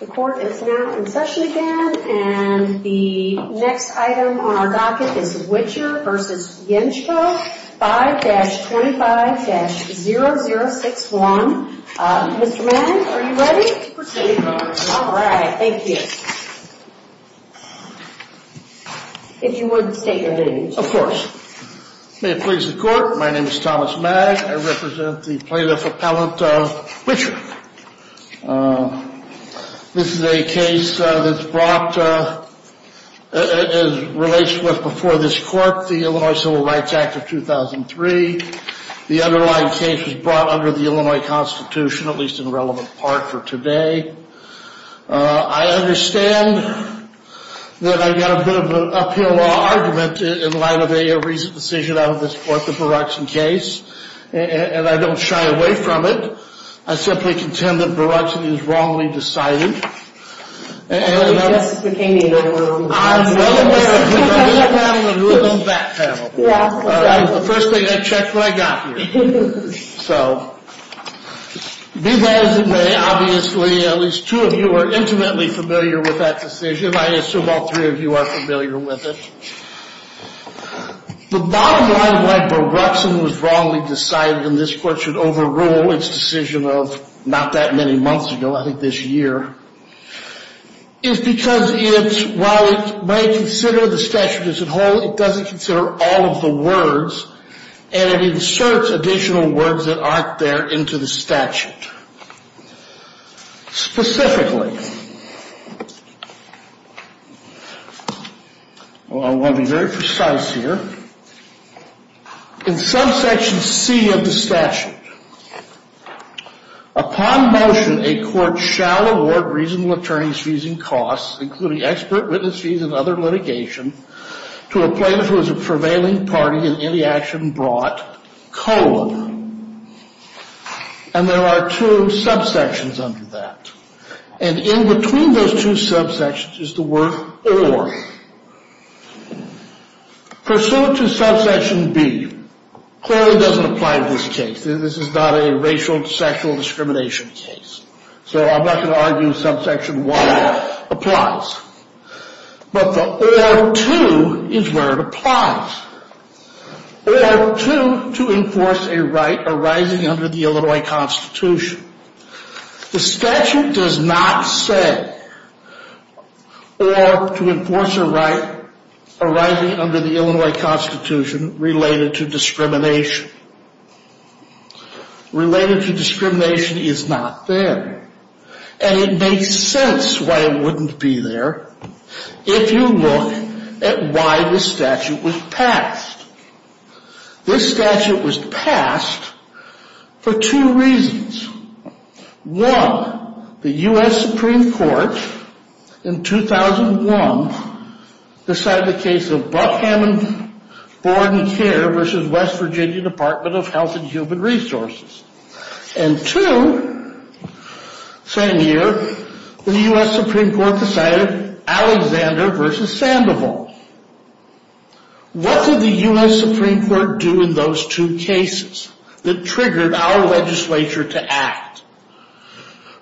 The court is now in session again, and the next item on our docket is Witcher v. Yenchko, 5-25-0061. Mr. Mag, are you ready? I'm ready. All right, thank you. If you would, state your name, please. Of course. May it please the court, my name is Thomas Mag. I represent the plaintiff appellant of Witcher. This is a case that's brought, as relates to what's before this court, the Illinois Civil Rights Act of 2003. The underlying case was brought under the Illinois Constitution, at least in relevant part for today. I understand that I've got a bit of an uphill argument in light of a recent decision out of this court, the Baruchson case, and I don't shy away from it. I simply contend that Baruchson is wrongly decided. I guess it became the Illinois Civil Rights Act. I'm well aware of that, but I'm not having a little back panel here. All right, the first thing, I checked what I got here. So, be that as it may, obviously, at least two of you are intimately familiar with that decision. I assume all three of you are familiar with it. The bottom line of why Baruchson was wrongly decided, and this court should overrule its decision of not that many months ago, I think this year, is because it, while it may consider the statute as whole, it doesn't consider all of the words, and it inserts additional words that aren't there into the statute. Specifically, I want to be very precise here, in subsection C of the statute, upon motion a court shall award reasonable attorney's fees and costs, including expert witness fees and other litigation, to a plaintiff who is a prevailing party in any action brought, colon. And there are two subsections under that. And in between those two subsections is the word or. Pursuant to subsection B, clearly doesn't apply to this case. This is not a racial, sexual discrimination case. So, I'm not going to argue subsection 1 applies. But the or to is where it applies. Or 2, to enforce a right arising under the Illinois Constitution. The statute does not say or to enforce a right arising under the Illinois Constitution related to discrimination. Related to discrimination is not there. And it makes sense why it wouldn't be there if you look at why this statute was passed. This statute was passed for two reasons. One, the U.S. Supreme Court in 2001 decided the case of Buckham and Borden Care versus West Virginia Department of Health and Human Resources. And two, same year, the U.S. Supreme Court decided Alexander versus Sandoval. What did the U.S. Supreme Court do in those two cases that triggered our legislature to act?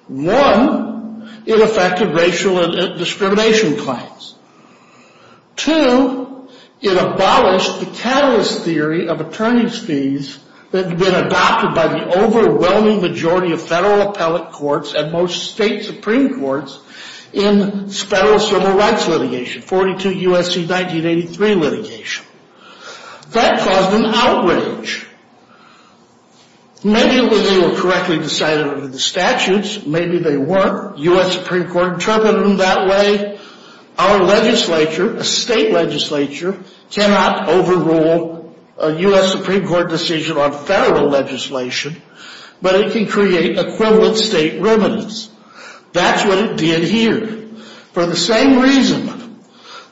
One, it affected racial discrimination claims. Two, it abolished the catalyst theory of attorney's fees that had been adopted by the overwhelming majority of federal appellate courts and most state supreme courts in federal civil rights litigation, 42 U.S.C. 1983 litigation. That caused an outrage. Maybe they were correctly decided under the statutes. Maybe they weren't. U.S. Supreme Court interpreted them that way. Our legislature, a state legislature, cannot overrule a U.S. Supreme Court decision on federal legislation, but it can create equivalent state remedies. That's what it did here. For the same reason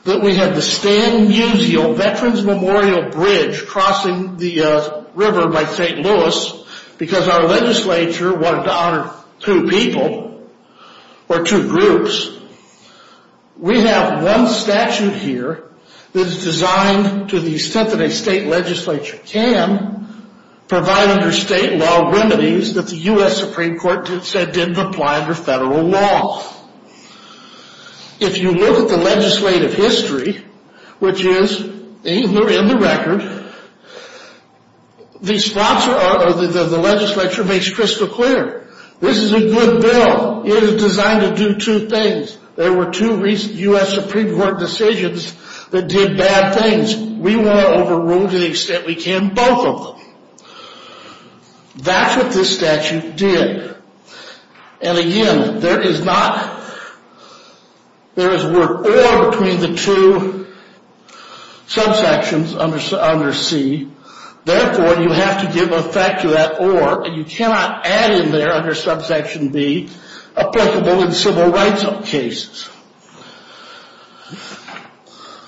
that we had the Stan Musial Veterans Memorial Bridge crossing the river by St. Louis because our legislature wanted to honor two people or two groups, we have one statute here that is designed to the extent that a state legislature can provide under state law remedies that the U.S. Supreme Court said didn't apply under federal law. If you look at the legislative history, which is in the record, the legislature makes crystal clear. This is a good bill. It is designed to do two things. There were two U.S. Supreme Court decisions that did bad things. We want to overrule to the extent we can both of them. That's what this statute did. And again, there is not, there is a word or between the two subsections under C. Therefore, you have to give effect to that or, and you cannot add in there under subsection B, applicable in civil rights cases.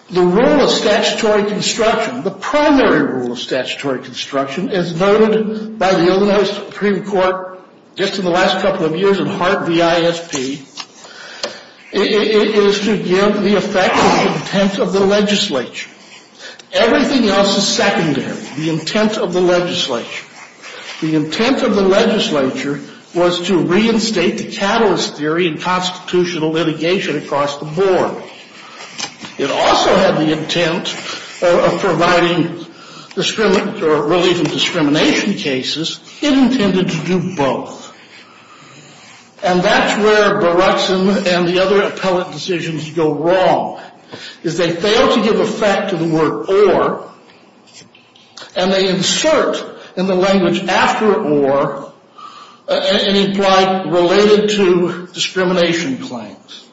The rule of statutory construction, the primary rule of statutory construction, as noted by the Illinois Supreme Court just in the last couple of years in Hart v. ISP, is to give the effect of the intent of the legislature. Everything else is secondary. The intent of the legislature. The intent of the legislature was to reinstate the catalyst theory in constitutional litigation across the board. It also had the intent of providing relief in discrimination cases. It intended to do both. And that's where Baruchson and the other appellate decisions go wrong, is they fail to give effect to the word or. And they insert in the language after or, and imply related to discrimination claims.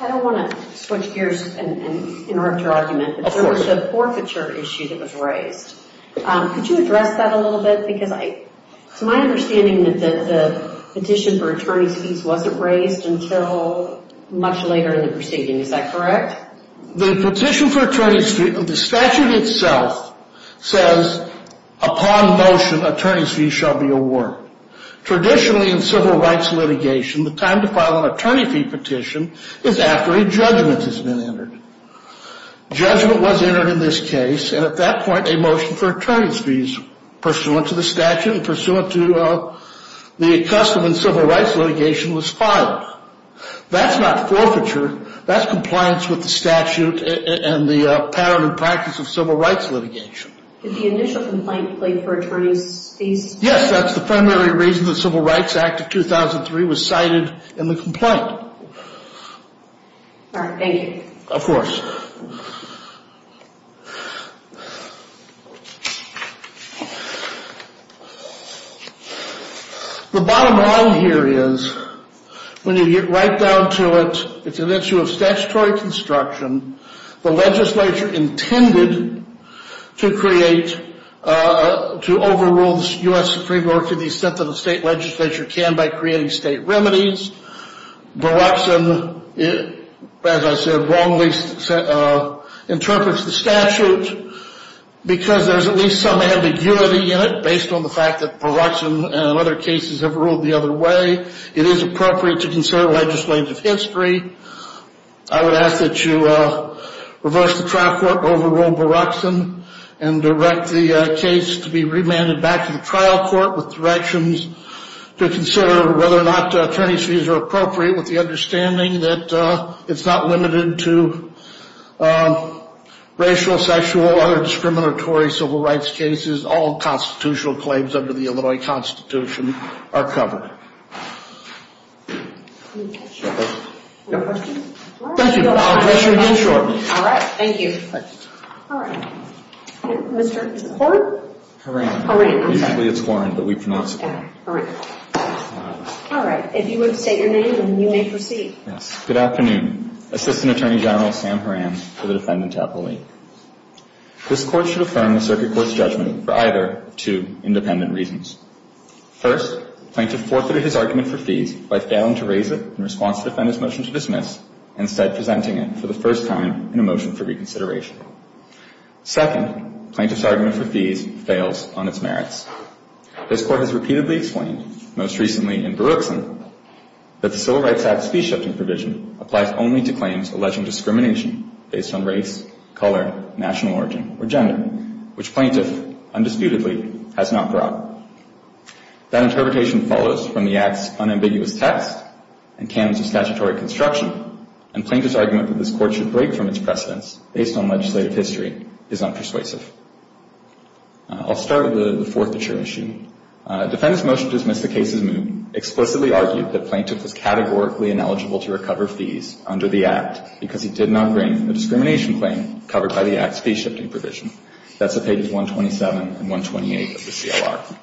I don't want to switch gears and interrupt your argument. Of course. There was a forfeiture issue that was raised. Could you address that a little bit? It's my understanding that the petition for attorney's fees wasn't raised until much later in the proceeding. Is that correct? The petition for attorney's fees, the statute itself says upon motion attorney's fees shall be awarded. Traditionally in civil rights litigation, the time to file an attorney fee petition is after a judgment has been entered. Judgment was entered in this case. And at that point, a motion for attorney's fees pursuant to the statute and pursuant to the custom in civil rights litigation was filed. That's not forfeiture. That's compliance with the statute and the pattern and practice of civil rights litigation. Did the initial complaint plead for attorney's fees? Yes, that's the primary reason the Civil Rights Act of 2003 was cited in the complaint. Thank you. Of course. The bottom line here is when you get right down to it, it's an issue of statutory construction. The legislature intended to create, to overrule the U.S. Supreme Court to the extent that the state legislature can by creating state remedies. Baruchson, as I said, wrongly interprets the statute because there's at least some ambiguity in it based on the fact that Baruchson and other cases have ruled the other way. It is appropriate to consider legislative history. I would ask that you reverse the trial court overrule Baruchson and direct the case to be remanded back to the trial court with directions to consider whether or not attorney's fees are appropriate with the understanding that it's not limited to racial, sexual, other discriminatory civil rights cases. All constitutional claims under the Illinois Constitution are covered. Thank you. I'll address you again shortly. All right. Thank you. All right. Mr. Horan? Horan. Horan. Usually it's Horan, but we pronounce it Horan. All right. If you would state your name and you may proceed. Yes. Good afternoon. Assistant Attorney General Sam Horan for the Defendant's Appellate. This court should affirm the circuit court's judgment for either two independent reasons. First, the plaintiff forfeited his argument for fees by failing to raise it in response to the Defendant's motion to dismiss and instead presenting it for the first time in a motion for reconsideration. Second, the plaintiff's argument for fees fails on its merits. This court has repeatedly explained, most recently in Baruchson, that the Civil Rights Act's fee-shifting provision applies only to claims alleging discrimination based on race, color, national origin, or gender, which plaintiff undisputedly has not brought. That interpretation follows from the Act's unambiguous text and canons of statutory construction, and plaintiff's argument that this court should break from its precedence based on legislative history is unpersuasive. I'll start with the forthature issue. Defendant's motion to dismiss the case has explicitly argued that plaintiff was categorically ineligible to recover fees under the Act because he did not bring a discrimination claim covered by the Act's fee-shifting provision. That's on pages 127 and 128 of the CLR.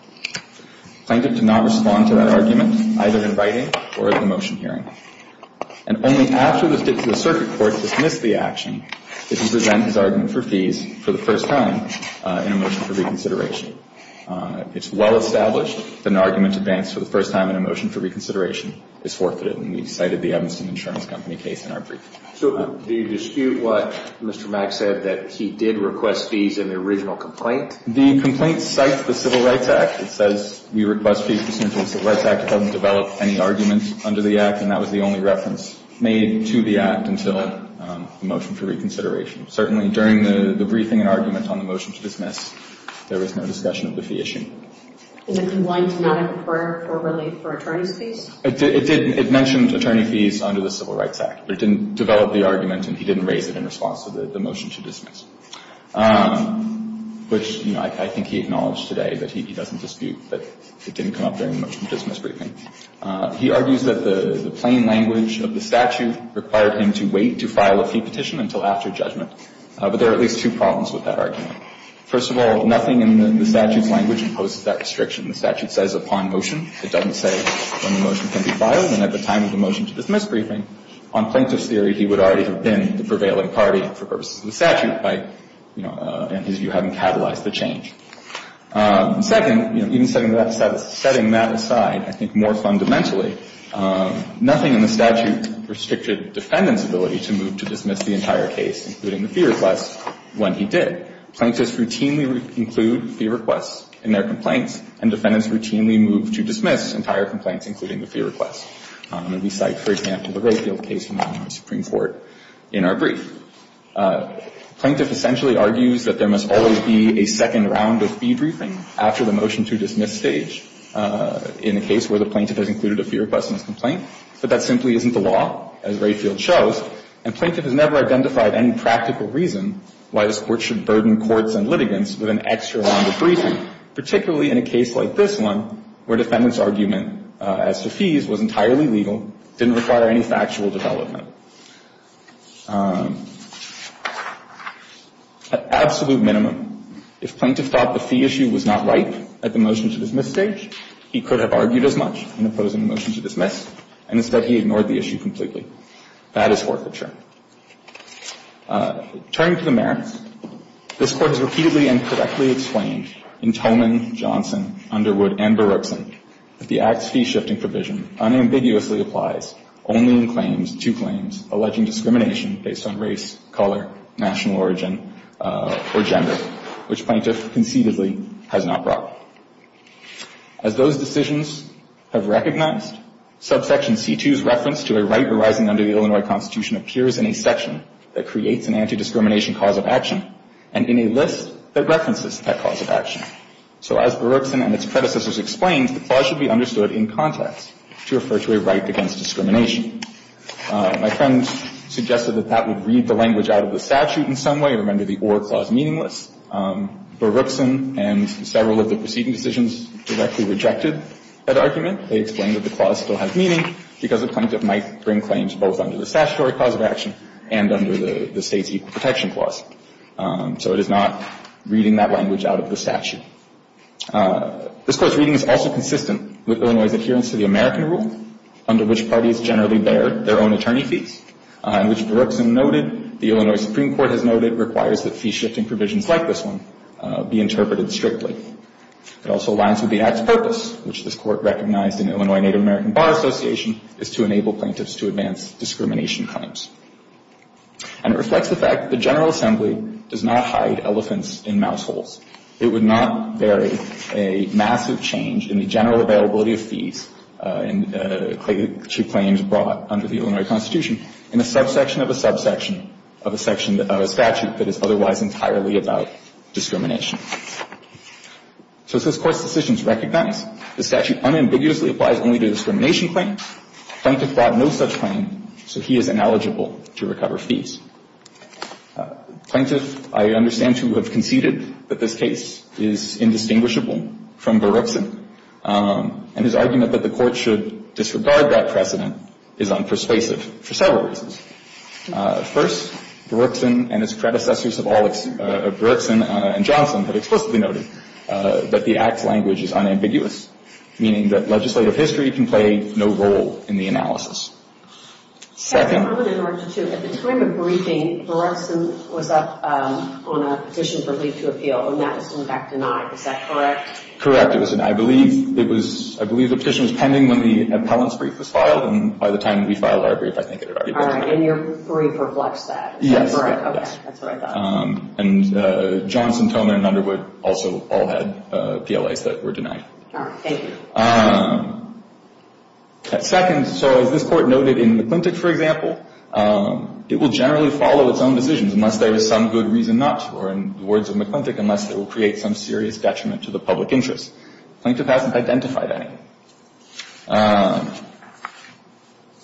Plaintiff did not respond to that argument, either in writing or at the motion hearing. And only after this did to the circuit court dismiss the action did he present his argument for fees for the first time in a motion for reconsideration. It's well established that an argument advanced for the first time in a motion for reconsideration is forfeited, and we've cited the Evanston Insurance Company case in our brief. So do you dispute what Mr. Mack said, that he did request fees in the original complaint? The complaint cites the Civil Rights Act. It says we request fees pursuant to the Civil Rights Act. It doesn't develop any argument under the Act, and that was the only reference made to the Act until the motion for reconsideration. Certainly during the briefing and argument on the motion to dismiss, there was no discussion of the fee issue. And the complaint did not inquire formally for attorney's fees? It did. It mentioned attorney fees under the Civil Rights Act. But it didn't develop the argument, and he didn't raise it in response to the motion to dismiss. Which, you know, I think he acknowledged today that he doesn't dispute that it didn't come up during the motion to dismiss briefing. He argues that the plain language of the statute required him to wait to file a fee petition until after judgment. But there are at least two problems with that argument. First of all, nothing in the statute's language imposes that restriction. The statute says upon motion. It doesn't say when the motion can be filed and at the time of the motion to dismiss briefing. On Plaintiff's theory, he would already have been the prevailing party for purposes of the statute by, you know, and his view having catalyzed the change. Second, you know, even setting that aside, I think more fundamentally, nothing in the statute restricted defendant's ability to move to dismiss the entire case, including the fee request, when he did. Plaintiffs routinely include fee requests in their complaints, and defendants routinely move to dismiss entire complaints, including the fee request. And we cite, for example, the Rayfield case from the New York Supreme Court in our brief. Plaintiff essentially argues that there must always be a second round of fee briefing after the motion to dismiss stage in a case where the plaintiff has included a fee request in his complaint. But that simply isn't the law, as Rayfield shows. And Plaintiff has never identified any practical reason why this Court should burden courts and litigants with an extra round of briefing, particularly in a case like this one where defendant's argument as to fees was entirely legal, didn't require any factual development. At absolute minimum, if Plaintiff thought the fee issue was not ripe at the motion to dismiss stage, he could have argued as much in opposing the motion to dismiss, and instead he ignored the issue completely. That is forfeiture. Turning to the merits, this Court has repeatedly and correctly explained in Tolman, Johnson, Underwood, and Berukson that the Act's fee-shifting provision unambiguously applies only in claims, two claims, alleging discrimination based on race, color, national origin, or gender, which Plaintiff conceitedly has not brought. As those decisions have recognized, subsection C2's reference to a right arising under the Illinois Constitution appears in a section that creates an anti-discrimination cause of action and in a list that references that cause of action. So as Berukson and its predecessors explained, the clause should be understood in context to refer to a right against discrimination. My friend suggested that that would read the language out of the statute in some way. Remember, the or clause meaningless. Berukson and several of the preceding decisions directly rejected that argument. They explained that the clause still has meaning because a plaintiff might bring claims both under the statutory cause of action and under the State's equal protection clause. So it is not reading that language out of the statute. This Court's reading is also consistent with Illinois' adherence to the American rule, under which parties generally bear their own attorney fees, which Berukson noted the Illinois Supreme Court has noted requires that fee-shifting provisions like this one be interpreted strictly. It also aligns with the Act's purpose, which this Court recognized in Illinois Native American Bar Association, is to enable plaintiffs to advance discrimination claims. And it reflects the fact that the General Assembly does not hide elephants in mouse holes. It would not bury a massive change in the general availability of fees to claims brought under the Illinois Constitution in a subsection of a subsection of a statute that is otherwise entirely about discrimination. So as this Court's decisions recognize, the statute unambiguously applies only to discrimination claims. Plaintiff brought no such claim, so he is ineligible to recover fees. Plaintiff, I understand, to have conceded that this case is indistinguishable from Berukson, and his argument that the Court should disregard that precedent is unpersuasive for several reasons. First, Berukson and his predecessors of Berukson and Johnson have explicitly noted that the Act's language is unambiguous, meaning that legislative history can play no role in the analysis. Second... I would interrupt you, too. At the time of briefing, Berukson was up on a petition for leave to appeal, and that was in fact denied. Is that correct? Correct. I believe the petition was pending when the appellant's brief was filed, and by the time we filed our brief, I think it had already been denied. And your brief reflects that. Yes. Okay, that's what I thought. And Johnson, Toner, and Underwood also all had PLAs that were denied. All right, thank you. Second, so as this Court noted in McClintic, for example, it will generally follow its own decisions unless there is some good reason not to, or in the words of McClintic, unless it will create some serious detriment to the public interest. McClintic hasn't identified any.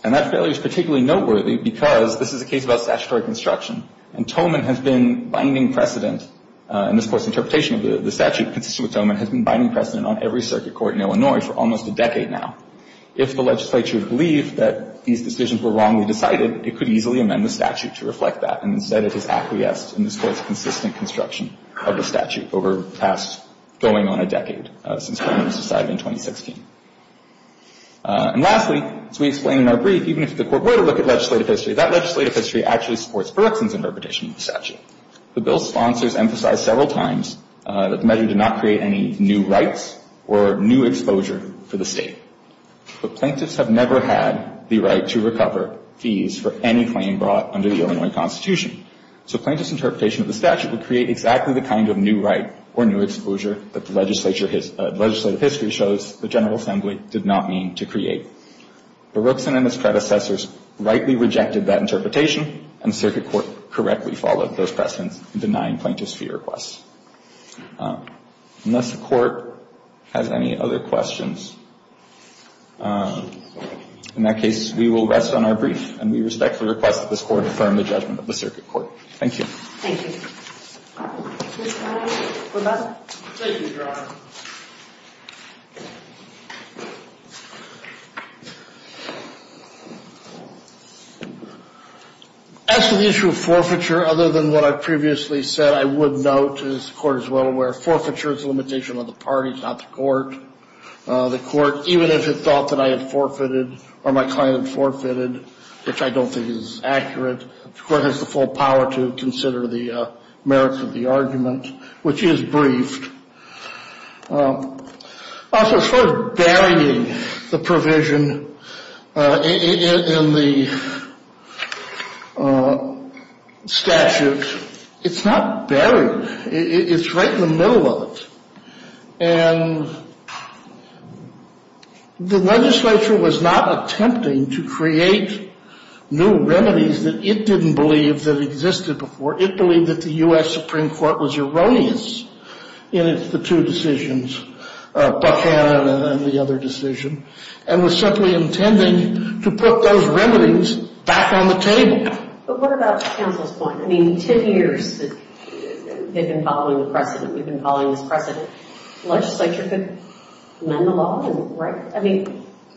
And that failure is particularly noteworthy because this is a case about statutory construction, and Toman has been binding precedent in this Court's interpretation of the statute, consistent with Toman, has been binding precedent on every circuit court in Illinois for almost a decade now. If the legislature believed that these decisions were wrongly decided, it could easily amend the statute to reflect that, and instead it has acquiesced in this Court's consistent construction of the statute over the past going on a decade, since Toman was decided in 2016. And lastly, as we explained in our brief, even if the Court were to look at legislative history, that legislative history actually supports Berkson's interpretation of the statute. The bill's sponsors emphasized several times that the measure did not create any new rights or new exposure for the state. But plaintiffs have never had the right to recover fees for any claim brought under the Illinois Constitution. So plaintiff's interpretation of the statute would create exactly the kind of new right or new exposure that the legislative history shows the General Assembly did not mean to create. But Berkson and his predecessors rightly rejected that interpretation, and the circuit court correctly followed those precedents in denying plaintiffs' fee requests. Unless the Court has any other questions, in that case, we will rest on our brief, and we respectfully request that this Court affirm the judgment of the circuit court. Thank you. Thank you. Mr. Connelly, we're back. Thank you, Your Honor. As to the issue of forfeiture, other than what I previously said, I would note, as the Court is well aware, forfeiture is a limitation on the parties, not the Court. The Court, even if it thought that I had forfeited or my client had forfeited, which I don't think is accurate, the Court has the full power to consider the merits of the argument, which is briefed. Also, sort of burying the provision in the statute, it's not buried. It's right in the middle of it. And the legislature was not attempting to create new remedies that it didn't believe that existed before. It believed that the U.S. Supreme Court was erroneous in its two decisions, Buchanan and the other decision, and was simply intending to put those remedies back on the table. But what about counsel's point? I mean, 10 years, they've been following the precedent. We've been following this precedent. The legislature could amend the law, right? I mean,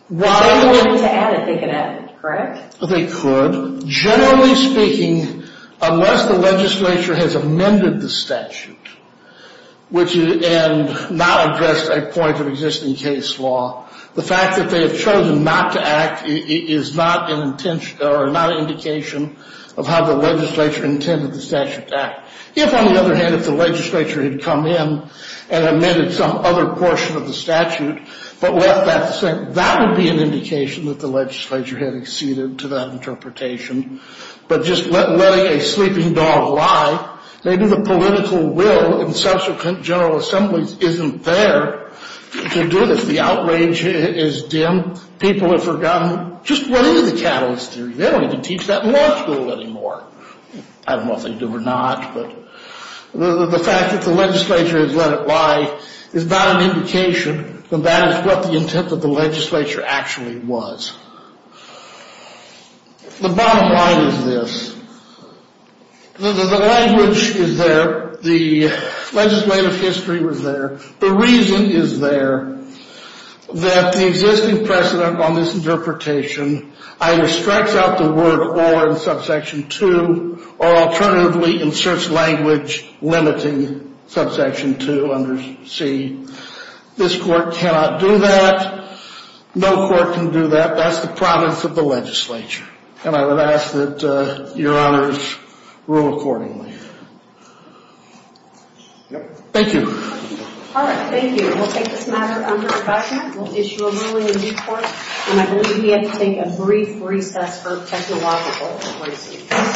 why would they want to add it? They could add it, correct? They could. Generally speaking, unless the legislature has amended the statute and not addressed a point of existing case law, the fact that they have chosen not to act is not an indication of how the legislature intended the statute to act. If, on the other hand, if the legislature had come in and amended some other portion of the statute, that would be an indication that the legislature had acceded to that interpretation. But just letting a sleeping dog lie, maybe the political will in subsequent general assemblies isn't there to do this. The outrage is dim. People have forgotten. Just run into the catalyst theory. They don't even teach that in law school anymore. I don't know if they do or not. The fact that the legislature has let it lie is not an indication that that is what the intent of the legislature actually was. The bottom line is this. The language is there. The legislative history was there. The reason is there that the existing precedent on this interpretation either strikes out the word or in subsection 2 or alternatively inserts language limiting subsection 2 under C. This court cannot do that. No court can do that. That's the province of the legislature. And I would ask that Your Honors rule accordingly. Thank you. All right. Thank you. We'll take this matter under discussion. We'll issue a ruling in due course. And I believe we have to take a brief recess for technological reasons.